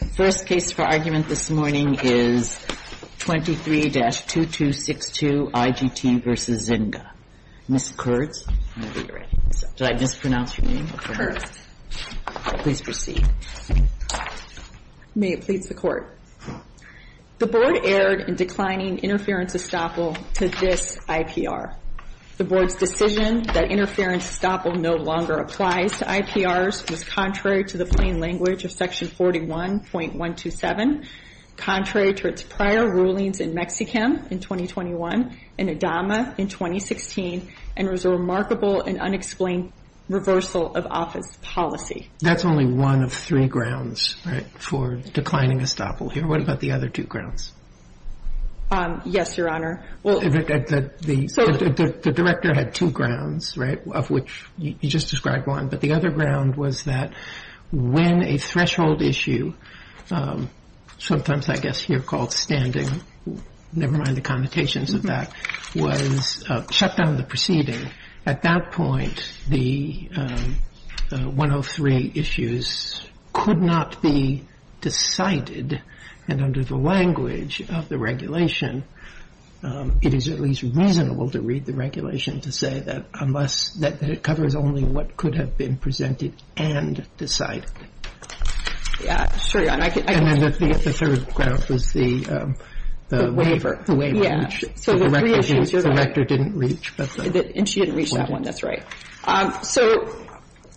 The first case for argument this morning is 23-2262 IGT v. Zynga. Ms. Kurtz, did I mispronounce your name? Please proceed. May it please the Court. The Board erred in declining interference estoppel to this IPR. The Board's decision that interference estoppel no longer applies to IPRs was contrary to the plain language of Section 41 .127, contrary to its prior rulings in Mexicam in 2021 and Adama in 2016, and was a remarkable and unexplained reversal of office policy. That's only one of three grounds, right, for declining estoppel here. What about the other two grounds? Yes, Your Honor. The Director had two grounds, right, of which you just described one. But the other ground was that when a threshold issue, sometimes I guess here called standing, never mind the connotations of that, was shut down in the proceeding, at that point, the 103 issues could not be decided, and under the language of the regulation, it is at least reasonable to read the regulation to say that unless, that it covers only what could have been presented and decided. Yeah, sure, Your Honor. And then the third ground was the waiver. The waiver, which the Director didn't reach. And she didn't reach that one, that's right. So,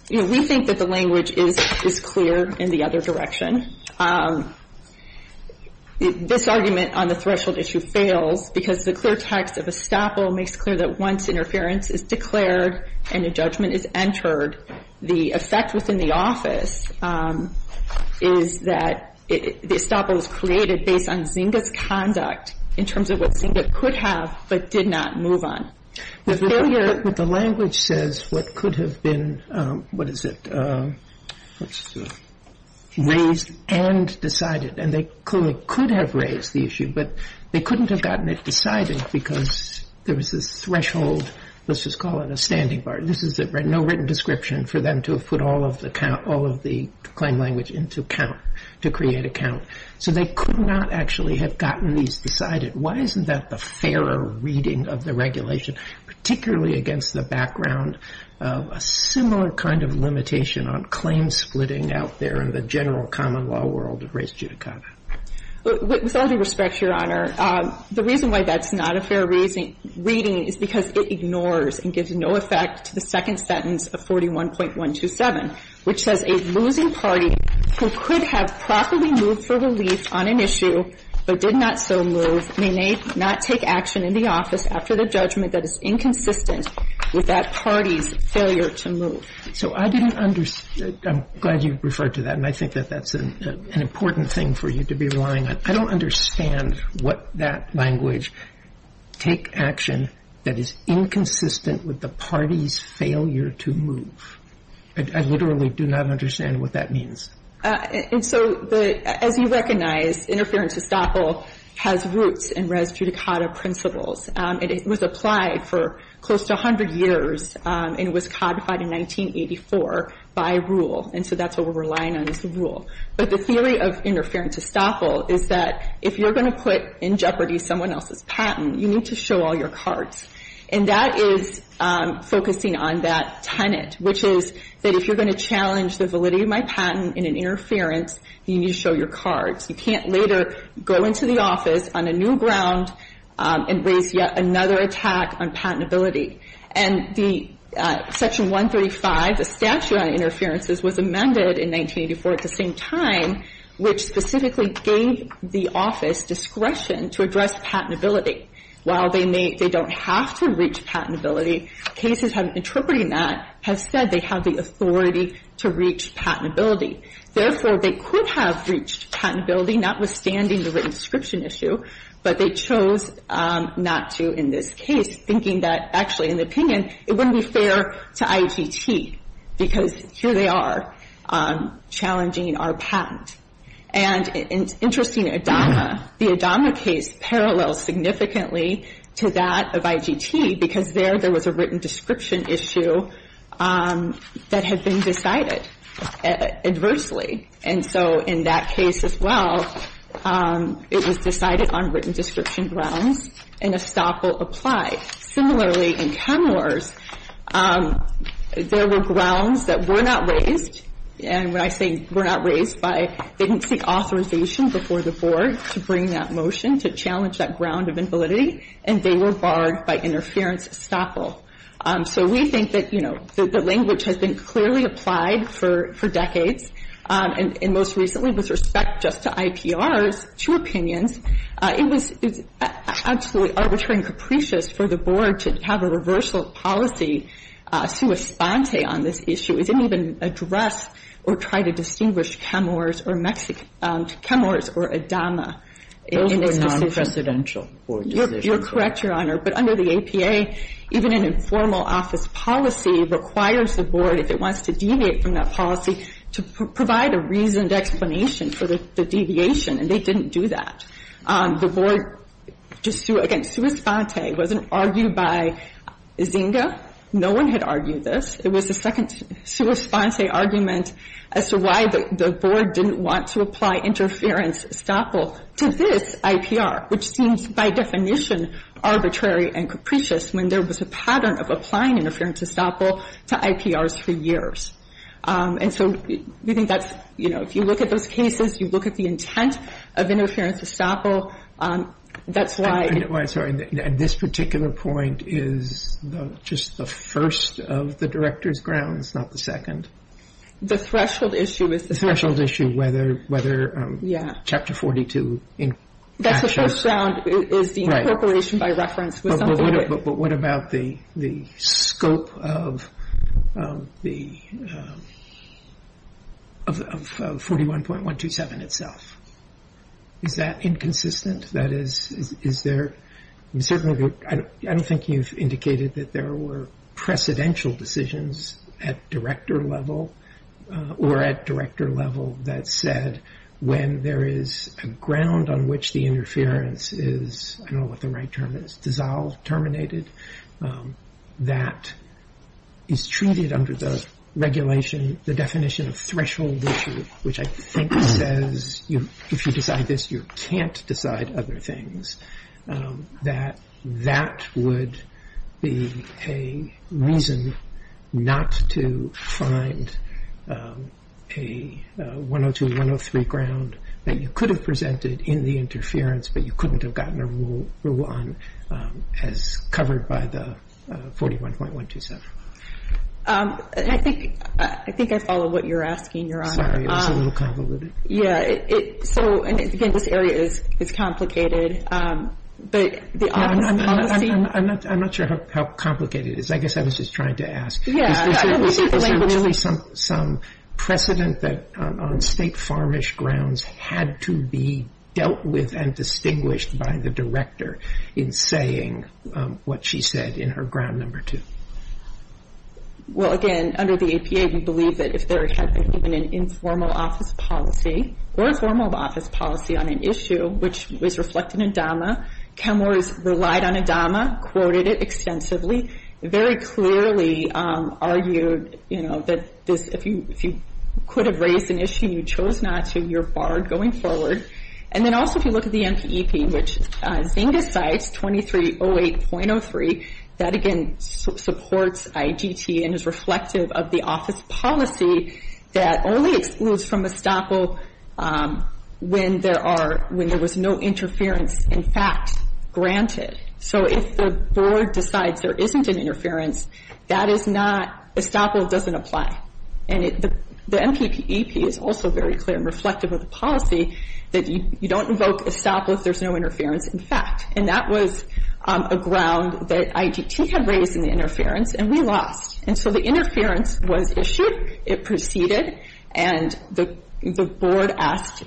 you know, we think that the language is clear in the other direction. And then, this argument on the threshold issue fails because the clear text of estoppel makes clear that once interference is declared and a judgment is entered, the effect within the office is that the estoppel is created based on Zinga's conduct in terms of what Zinga could have but did not move on. But the language says what could have been, what is it, raised and decided. And they clearly could have raised the issue, but they couldn't have gotten it decided because there was this threshold, let's just call it a standing bar. This is no written description for them to have put all of the claim language into count to create a count. So they could not actually have gotten these decided. Why isn't that the fairer reading of the regulation, particularly against the background of a similar kind of limitation on claim splitting out there in the general common law world of race judicata? With all due respect, Your Honor, the reason why that's not a fair reading is because it ignores and gives no effect to the second sentence of 41.127, which says a losing party who could have properly moved for relief on an issue, but did not so move, may not take action in the office after the judgment that is inconsistent with that party's failure to move. So I didn't understand, I'm glad you referred to that, and I think that that's an important thing for you to be relying on. I don't understand what that language, take action that is inconsistent with the party's failure to move. I literally do not understand what that means. And so as you recognize, interference estoppel has roots in race judicata principles. It was applied for close to 100 years, and it was codified in 1984 by rule, and so that's what we're relying on is the rule. But the theory of interference estoppel is that if you're going to put in jeopardy someone else's patent, you need to show all your cards. And that is focusing on that tenet, which is that if you're going to challenge the validity of my patent in an interference, you need to show your cards. You can't later go into the office on a new ground and raise yet another attack on patentability. And the section 135, the statute on interferences, was amended in 1984 at the same time, which specifically gave the office discretion to address patentability while they don't have to reach patentability. Cases interpreting that have said they have the authority to reach patentability. Therefore, they could have reached patentability, notwithstanding the written description issue, but they chose not to in this case, thinking that actually in the opinion it wouldn't be fair to IGT because here they are challenging our patent. And in interesting ADAMA, the ADAMA case parallels significantly to that of IGT because there there was a written description issue that had been decided adversely. And so in that case as well, it was decided on written description grounds and estoppel applied. Similarly, in Kenmore's, there were grounds that were not raised, and when I say were not raised by, they didn't seek authorization before the board to bring that motion to challenge that ground of invalidity and they were barred by interference estoppel. So we think that, you know, the language has been clearly applied for decades and most recently with respect just to IPRs, to opinions, it was absolutely arbitrary and capricious for the board to have a reversal policy suespante on this issue. It didn't even address or try to distinguish Kenmore's or ADAMA. Those were non-presidential board decisions. You're correct, Your Honor. But under the APA, even an informal office policy requires the board, if it wants to deviate from that policy, to provide a reasoned explanation for the deviation, and they didn't do that. The board, again, suespante wasn't argued by Zinga. No one had argued this. It was the second suespante argument as to why the board didn't want to apply interference estoppel to this IPR, which seems by definition arbitrary and capricious when there was a pattern of applying interference estoppel to IPRs for years. And so we think that's, you know, if you look at those cases, you look at the intent of interference estoppel, that's why... I'm sorry. This particular point is just the first of the director's grounds, not the second? The threshold issue is the... The threshold issue, whether Chapter 42... That's the first ground, is the incorporation by reference. But what about the scope of 41.127 itself? Is that inconsistent? That is, is there... I don't think you've indicated that there were precedential decisions at director level or at director level that said when there is a ground on which the interference is... I don't know what the right term is, dissolved, terminated, that is treated under the regulation, the definition of threshold issue, which I think says if you decide this, you can't decide other things, that that would be a reason not to find a 102, 103 ground that you could have presented in the interference, but you couldn't have gotten a rule on as covered by the 41.127. I think I follow what you're asking, Your Honor. Sorry, it was a little convoluted. Yeah. So, again, this area is complicated, but the... I'm not sure how complicated it is. I guess I was just trying to ask. Yeah. Is there some precedent that on state farmish grounds had to be dealt with and distinguished by the director in saying what she said in her ground number two? Well, again, under the APA, we believe that if there had been an informal office policy or informal office policy on an issue which was reflected in DAMA, CalMERS relied on a DAMA, quoted it extensively, very clearly argued that if you could have raised an issue and you chose not to, you're barred going forward. And then also if you look at the NPEP, which Zynga cites 2308.03, that again supports IGT and is reflective of the office policy that only excludes from estoppel when there was no interference, in fact, granted. So if the board decides there isn't an interference, that is not... estoppel doesn't apply. And the NPEP is also very clear and reflective of the policy that you don't invoke estoppel if there's no interference, in fact. And that was a ground that IGT had raised in the interference and we lost. And so the interference was issued, it proceeded, and the board asked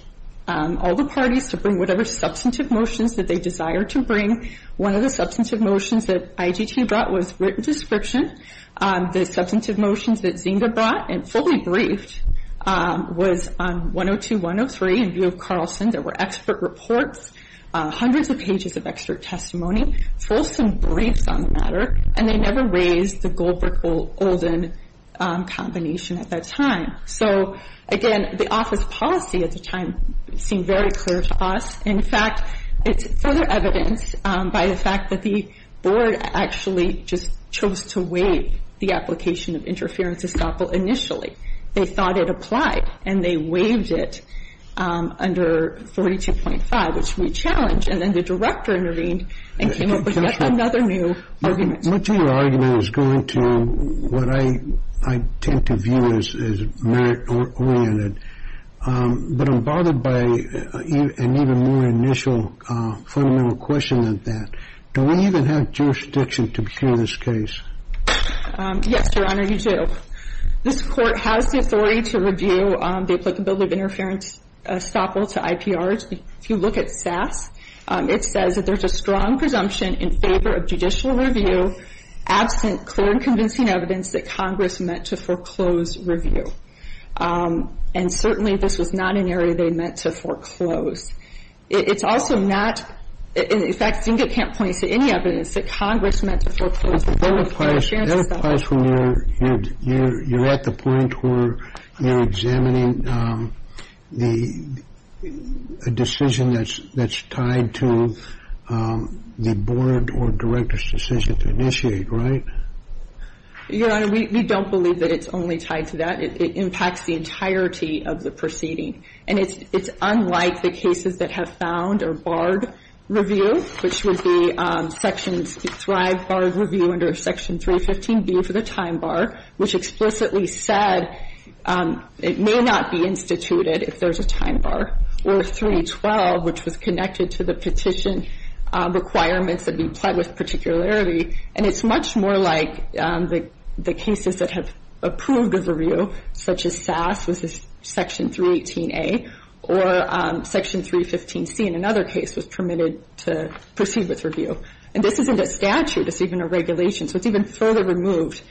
all the parties to bring whatever substantive motions that they desired to bring. One of the substantive motions that IGT brought was written description. The substantive motions that Zynga brought and fully briefed was on 102.103 in view of Carlson. There were expert reports, hundreds of pages of expert testimony, fulsome briefs on the matter, and they never raised the Goldberg-Olden combination at that time. So again, the office policy at the time seemed very clear to us. In fact, it's further evidenced by the fact that the board actually just chose to waive the application of interference estoppel initially. They thought it applied and they waived it under 42.5, which we challenged. And then the director intervened and came up with yet another new argument. Much of your argument is going to what I tend to view as merit-oriented. But I'm bothered by an even more initial fundamental question than that. Do we even have jurisdiction to pursue this case? Yes, Your Honor, you do. This Court has the authority to review the applicability of interference estoppel to IPRs. If you look at SAS, it says that there's a strong presumption in favor of judicial review absent clear and convincing evidence that Congress meant to foreclose review. And certainly this was not an area they meant to foreclose. It's also not, in fact, I think it can't point to any evidence that Congress meant to foreclose interference estoppel. That applies when you're at the point where you're examining the decision that's tied to the board or director's decision to initiate, right? Your Honor, we don't believe that it's only tied to that. It impacts the entirety of the proceeding. And it's unlike the cases that have found or barred review, which would be Section 315B for the time bar, which explicitly said it may not be instituted if there's a time bar. Or 312, which was connected to the petition requirements that we applied with particularity. And it's much more like the cases that have approved the review, such as SAS, which is Section 318A, or Section 315C in another case was permitted to proceed with review. And this isn't a statute. It's even a regulation. So it's even further removed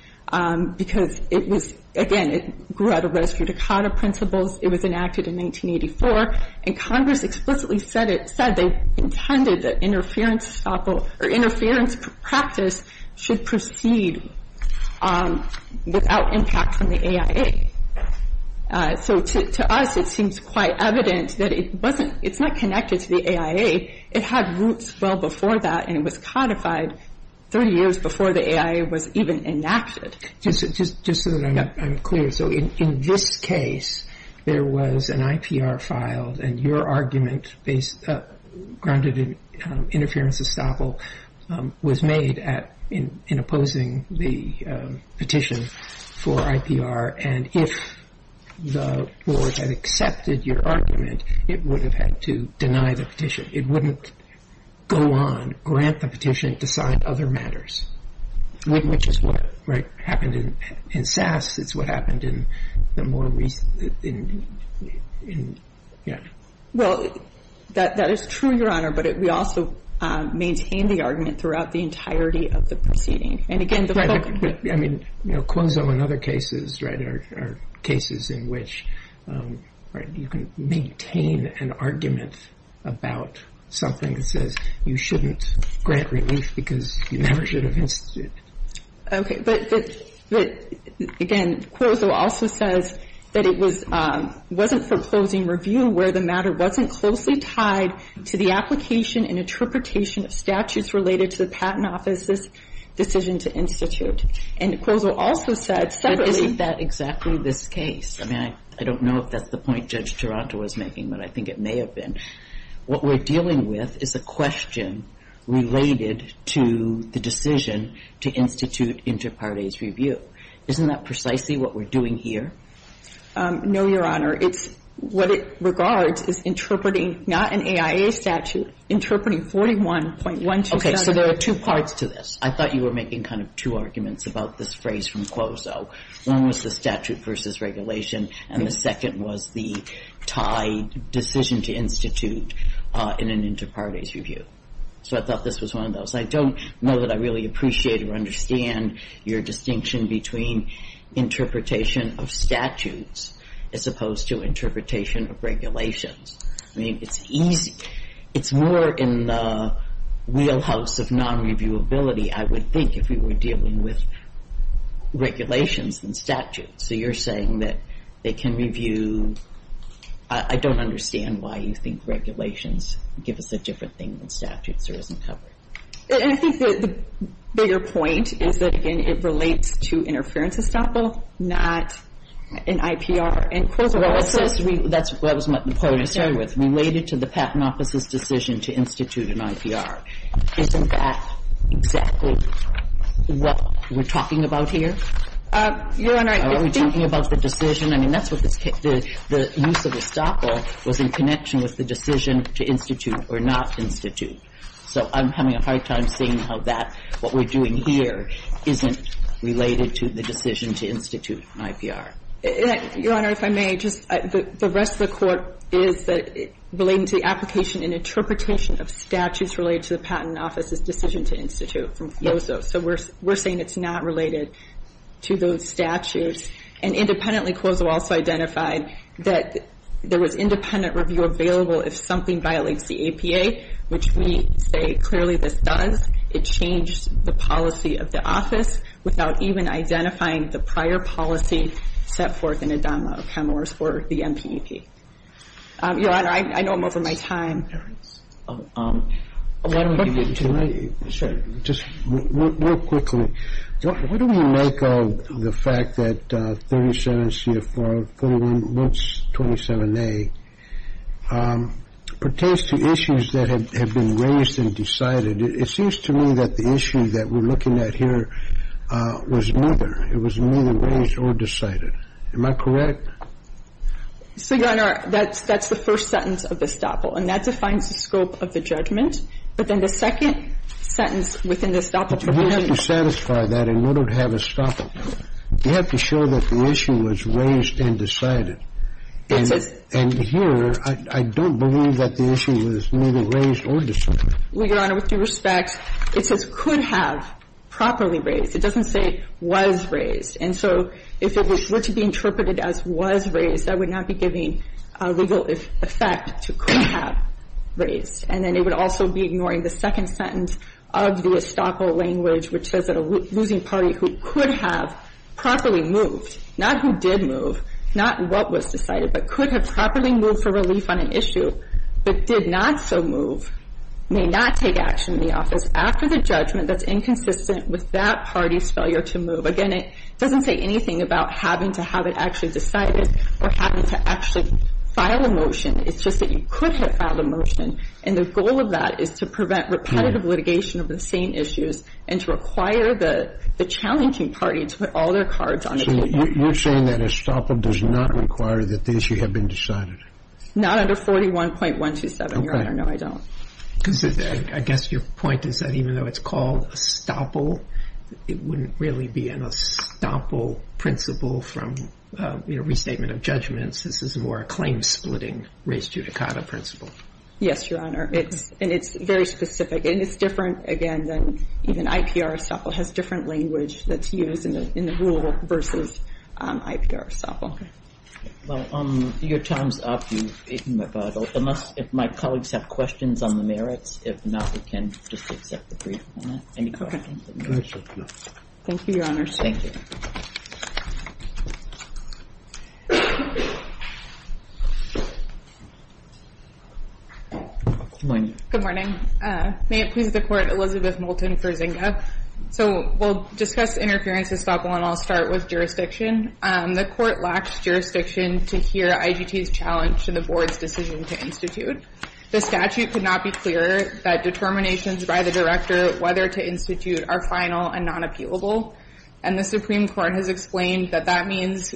because it was, again, it grew out of res judicata principles. It was enacted in 1984. And Congress explicitly said they intended that interference estoppel or interference practice should proceed without impact from the AIA. So to us, it seems quite evident that it's not connected to the AIA. It had roots well before that and it was codified 30 years before the AIA was even enacted. Just so that I'm clear. So in this case, there was an IPR filed and your argument grounded in interference estoppel was made in opposing the petition for IPR and if the board had accepted your argument, it would have had to deny the petition. It wouldn't go on, grant the petition, decide other matters. Which is what happened in SAS. It's what happened in the more recent... Well, that is true, Your Honor, but we also maintain the argument throughout the entirety of the proceeding. And again, the... I mean, you know, Quozo and other cases are cases in which you can maintain an argument about something that says you shouldn't grant relief because you never should have instituted. Okay, but again, Quozo also says that it wasn't for closing review where the matter wasn't closely tied to the application and interpretation of statutes related to the Patent Office's decision to institute. And Quozo also said separately... But isn't that exactly this case? I mean, I don't know if that's the point Judge Taranto was making, but I think it may have been. What we're dealing with is a question related to the decision to institute inter partes review. Isn't that precisely what we're doing here? No, Your Honor. It's what it regards as interpreting, not an AIA statute, interpreting 41.127... Okay, so there are two parts to this. I thought you were making kind of two arguments about this phrase from Quozo. One was the statute versus regulation and the second was the tied decision to institute in an inter partes review. So I thought this was one of those. I don't know that I really appreciate or understand your distinction between interpretation of statutes as opposed to interpretation of regulations. I mean, it's easy. It's more in the wheelhouse of non-reviewability I would think if we were dealing with regulations than statutes. So you're saying that they can review... I don't understand why you think regulations give us a different thing than statutes or isn't covered. I think the bigger point is that, again, it relates to interference estoppel, not an IPR. And Quozo also... Well, that was what the point I started with. Related to the Patent Office's decision to institute an IPR. Isn't that exactly what we're talking about here? Your Honor... Are we talking about the decision? I mean, that's what the use of estoppel was in connection with the decision to institute or not institute. So I'm having a hard time seeing how that, what we're doing here, isn't related to the decision to institute an IPR. Your Honor, if I may, the rest of the Court is relating to the application and interpretation of statutes related to the Patent Office's decision to institute from Quozo. So we're saying it's not related to those statutes. And independently, Quozo also identified that there was independent review available if something violates the APA, which we say clearly this does. It changed the policy of the Office without even identifying the prior policy set forth in Adama of Hemorrhage for the MPEP. Your Honor, I know I'm over my time. I'm going to Excuse me. Just real quickly. What do we make of the fact that 37 CFR 41 BOOTS 27A pertains to issues that have been raised and decided. It seems to me that the issue that we're looking at here was neither. It was neither raised nor decided. Am I correct? Your Honor, that's the first sentence of the estoppel. And that defines the scope of the judgment. But then the second sentence within the estoppel. But in order to satisfy that, in order to have estoppel, you have to show that the issue was raised and decided. And here, I don't believe that the issue was neither raised or Well, Your Honor, with due respect, it says could have properly raised. It doesn't say was raised. And so if it were to be interpreted as was raised, that would not be giving a legal effect to could have raised. And then it would also be ignoring the second sentence of the estoppel language, which says that a losing party who could have properly moved, not who did consistent with that party's failure to move. Again, it doesn't say anything about having to have it actually decided or having to actually file a It's just that you could have filed a And the second estoppel wouldn't really be an estoppel principle from restatement of This is more a claim splitting raised judicata principle. Yes, Your Honor. And it's very specific. And it's different, again, than even IPR estoppel has different language that's used in the rule versus IPR estoppel. Well, your time's up. If my colleagues have questions on the merits, if not, we can just accept the brief. Okay. Thank you, Your Honor. Thank you. Good morning. Good morning. May it please the Court, Elizabeth Moulton for Zinga. So we'll discuss interference estoppel and I'll start with jurisdiction. The Court lacks jurisdiction to hear IGT's challenge to the Board's decision to The statute could not be clearer that determinations by the whether to institute are final and non-appealable. And the Supreme Court has explained that that means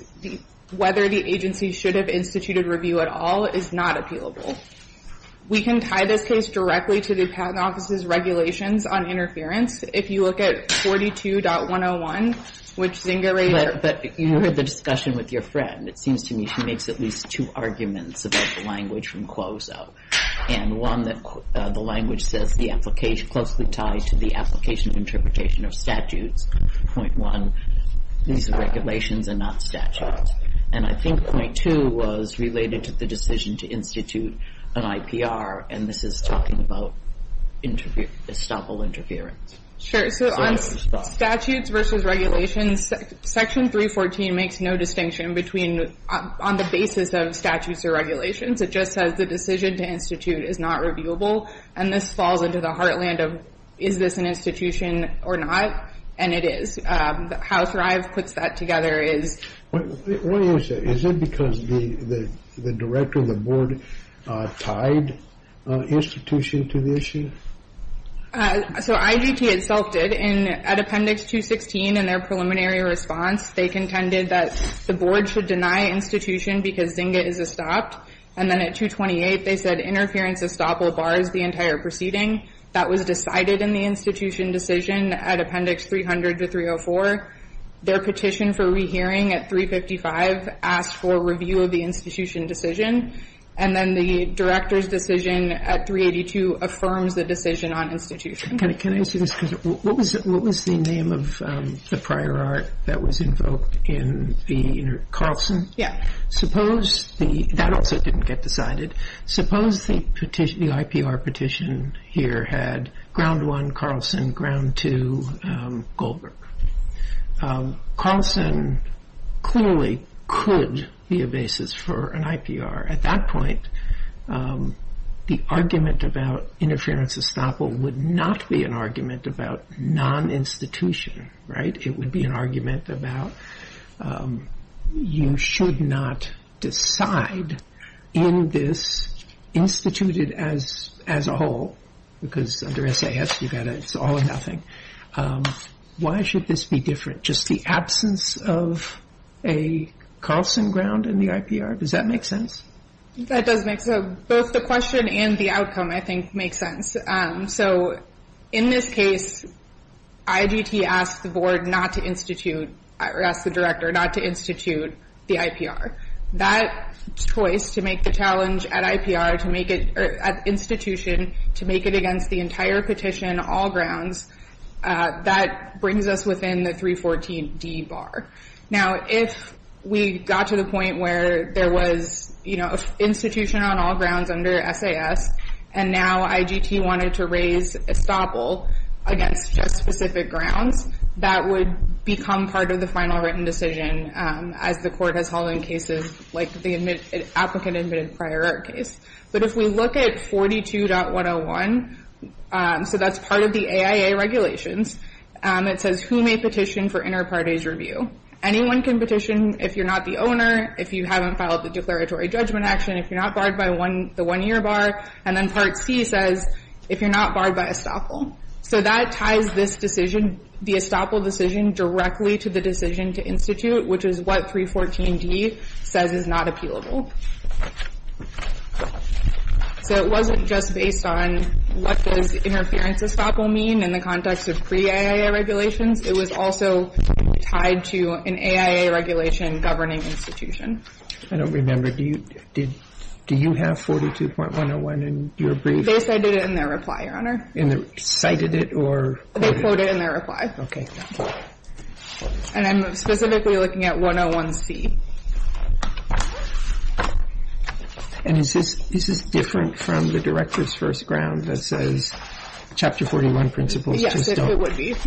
whether the agency should have instituted review at all is not appealable. We can tie this case directly to the Patent Office's regulations on interference. If you look at 42.101, which Zinga But you heard the discussion with your friend. It seems to me she makes at least two arguments about the language from Quozo. And one that the language says the application closely tied to the application interpretation of statutes. Point one, these are regulations and not statutes. And I think point two was related to the decision to institute an IPR. And this is talking about estoppel interference. Sure. So on statutes versus regulations, section 314 makes no distinction between on the basis of statutes or regulations. It just says the decision to institute is not reviewable. And this falls into the heartland of is this an institution or not? And it is. How Thrive puts that together is What do you say? Is it because the director of the board tied institution to the issue? So IGT itself did. At appendix 216 in contended that the board should deny institution because zinga is estopped. And then at 228 they said interference estoppel bars the entire proceeding. That was decided in the institution decision at appendix 300 to 304. Their petition for rehearing at 355 asked for review of the institution decision. And then the director's decision at 382 affirms the decision on institution. Can I ask you this? What was the name of the prior art that was invoked in the Carlson? Yeah. That also didn't get decided. Suppose the IPR petition here had ground one Carlson, ground two Goldberg. Carlson clearly could be a basis for an IPR. At that point the argument about interference estoppel would not be an about non-institution, right? It would be an about you should not decide in this instituted as a whole. Because under S.A. it's all or nothing. Why should this be different? Just the absence of a Carlson ground in the IPR? Does that make sense? That does make sense. Both the question and the outcome I think make sense. So in this case IGT asked the board not to institute the IPR. That choice to make the challenge at institution to make it against the entire petition all grounds that brings us within the 314 D bar. Now if we got to the point where there was institution on all under S.A.S. and now the grounds that would become part of the final written decision. But if we look at 42.101 so that's part of the AIA regulations it says who may petition for inter review. So one can petition if you're not the if you haven't filed the declaratory judgment action if you're not barred by the one year bar. And then part C says if you're not barred by So that ties this decision the estoppel decision directly to the decision to institute which is what 314D says is not appealable. So it wasn't just based on what does interference estoppel mean in the context of pre AIA regulations it was also tied to an AIA regulation governing institution. I don't remember. Do you have 42.101 in your They cited it in their reply your honor. Cited it or They quoted it in their reply. Okay. And I'm specifically looking at 101C. And is this different from the director's first ground that says chapter 41 principles just don't to me. Just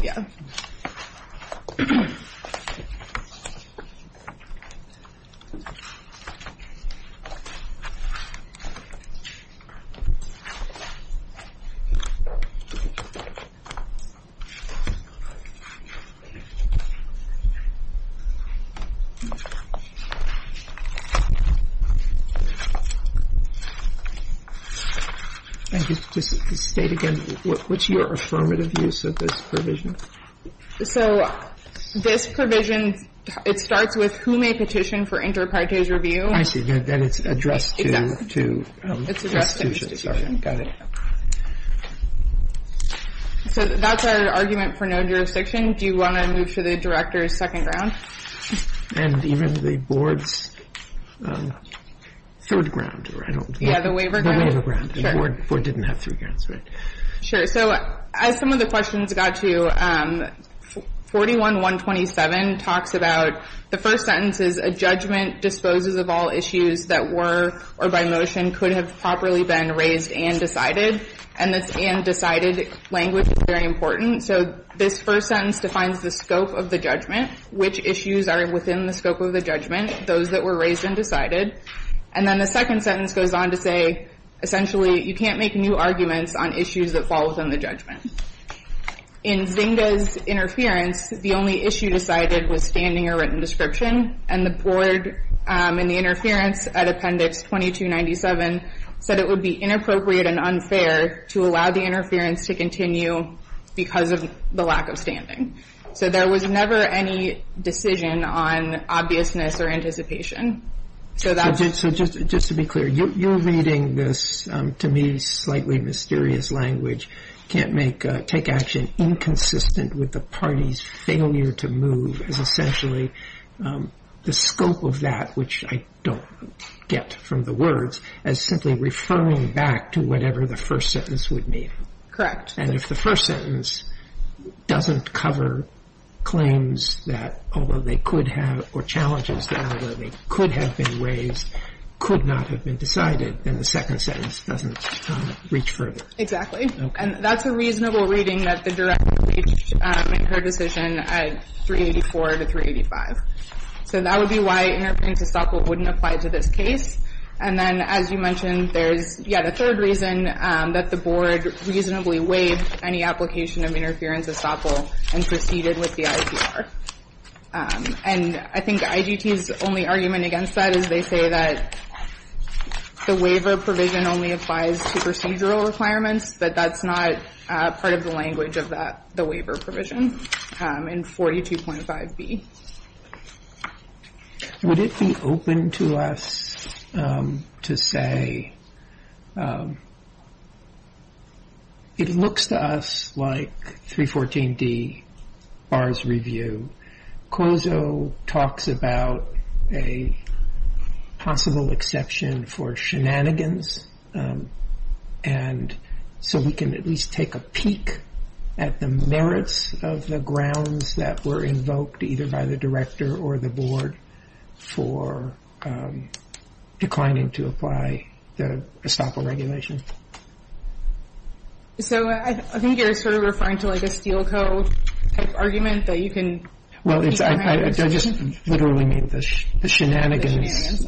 to state again what's your affirmative use of this principle So this provision it starts with who may petition for inter partage review. I see that it's addressed to institutions. Got it. So that's our argument for no jurisdiction. Do you want to move to the director's second ground? And even the board's third ground. The waiver ground. So as some of the questions got to, 41 127 talks about the first sentence is a disposes of all issues that were or by motion could have properly been raised and decided. And this and decided language is very important. So this first sentence defines the first And the second sentence goes on to say essentially you can't make new arguments on issues that fall within the judgment. In Zinga's interference the only issue decided was standing or written description and the board said it would be inappropriate and unfair to allow the interference to continue because of the lack of So there was never any decision on obviousness or anticipation. So that So just to be clear you're reading this to me slightly mysterious language can't take action inconsistent with the party's failure to move is essentially the scope of that which I don't get from the words as simply referring back to whatever the first sentence would mean. And if the first sentence doesn't cover claims that although they could have or challenges that although they could have been raised could not have been decided then the second sentence doesn't reach further. And that's a reasonable reading that the director reached in her decision at 384 to 385. So that would be why interference estoppel wouldn't apply to this case. And then as you mentioned there's yeah the third reason that the reasonably waived any application of interference estoppel and proceeded with the ICR. And I think IGT's only argument against that is they say that the waiver provision only applies to procedural requirements but that's not part of the language of that the waiver provision in 42.5B. Would it be open to us to say it looks to us like 314D would likely BAHR's review KOZO talks about a possible exception for shenanigans and so we can at least take a peek at the merits of the grounds that were either by the Steel Code argument that you can well I just literally made the shenanigans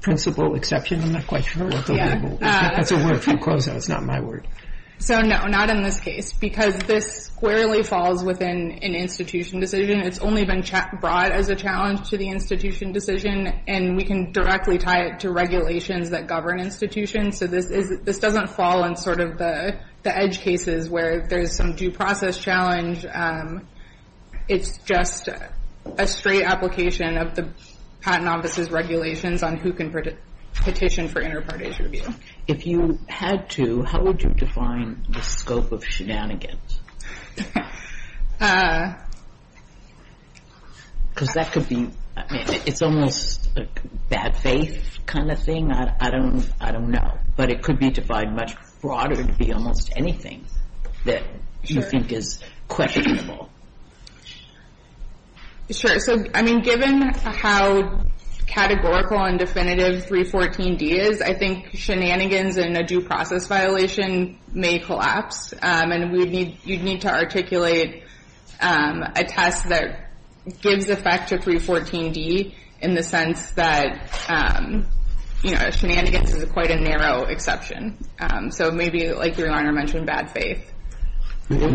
principle exception I'm not quite sure that's a word from KOZO it's not my word so no not in this case because this squarely falls within an institution decision it's only been brought as a challenge to the process challenge it's just a straight application of the Patent Office's regulations on who can petition for inter-parties review if you had to how would you define the scope of shenanigans because that could be it's almost like bad faith kind of thing I don't know but it could be much broader almost anything that you think is questionable sure given how categorical and definitive 314D is I think shenanigans in a due process violation may collapse and you need to articulate a test that gives effect to 314D in the sense that shenanigans is quite a narrow exception so maybe like your honor mentioned bad faith maybe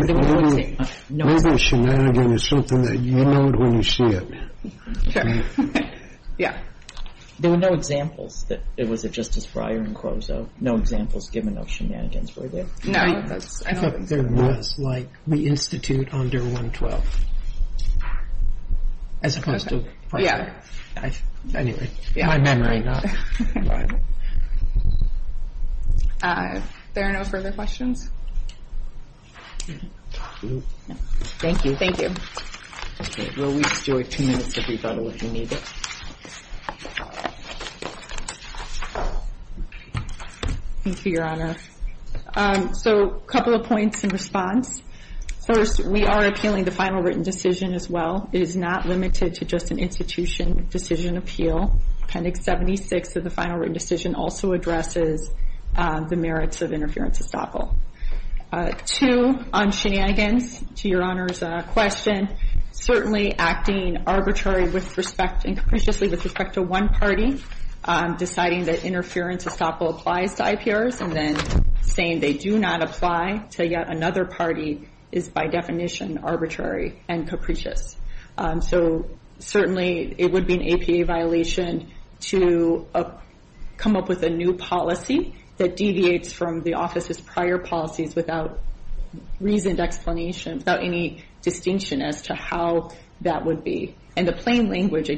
shenanigans is something that you know it when you see it sure yeah there were no examples that it was a justice briar and no examples given of shenanigans were there no there was like we institute under 112 as opposed to yeah anyway in my memory not but there are no further questions thank you thank you will we enjoy two minutes of if you need it thank you your honor so couple of points in response first we are appealing the final written decision as well it is not limited to just an institution decision appeal appendix 76 of the final written decision also addresses the merits of interference estoppel two on shenanigans to your honor's question certainly acting arbitrary with respect to one party deciding that interference applies to IPRs and then saying they do not apply to yet another party is by definition arbitrary and so certainly it would be an APA violation to come up with a new policy that deviates from the office's prior policies without any distinction as to how that would be and the plain language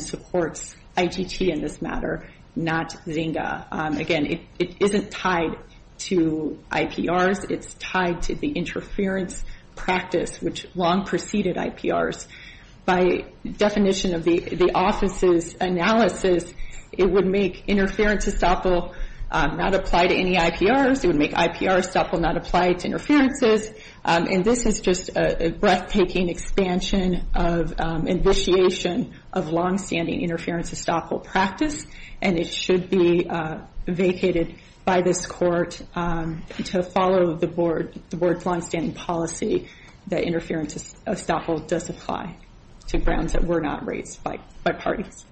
supports ITT in this matter not Zynga it is not tied to IPRs it is tied to the interference practice which long preceded IPRs by definition of the office's it would make interference estoppel not apply to any IPRs and this is just a breathtaking expansion of long standing interference estoppel practice and it does apply to grounds that were not raised by parties.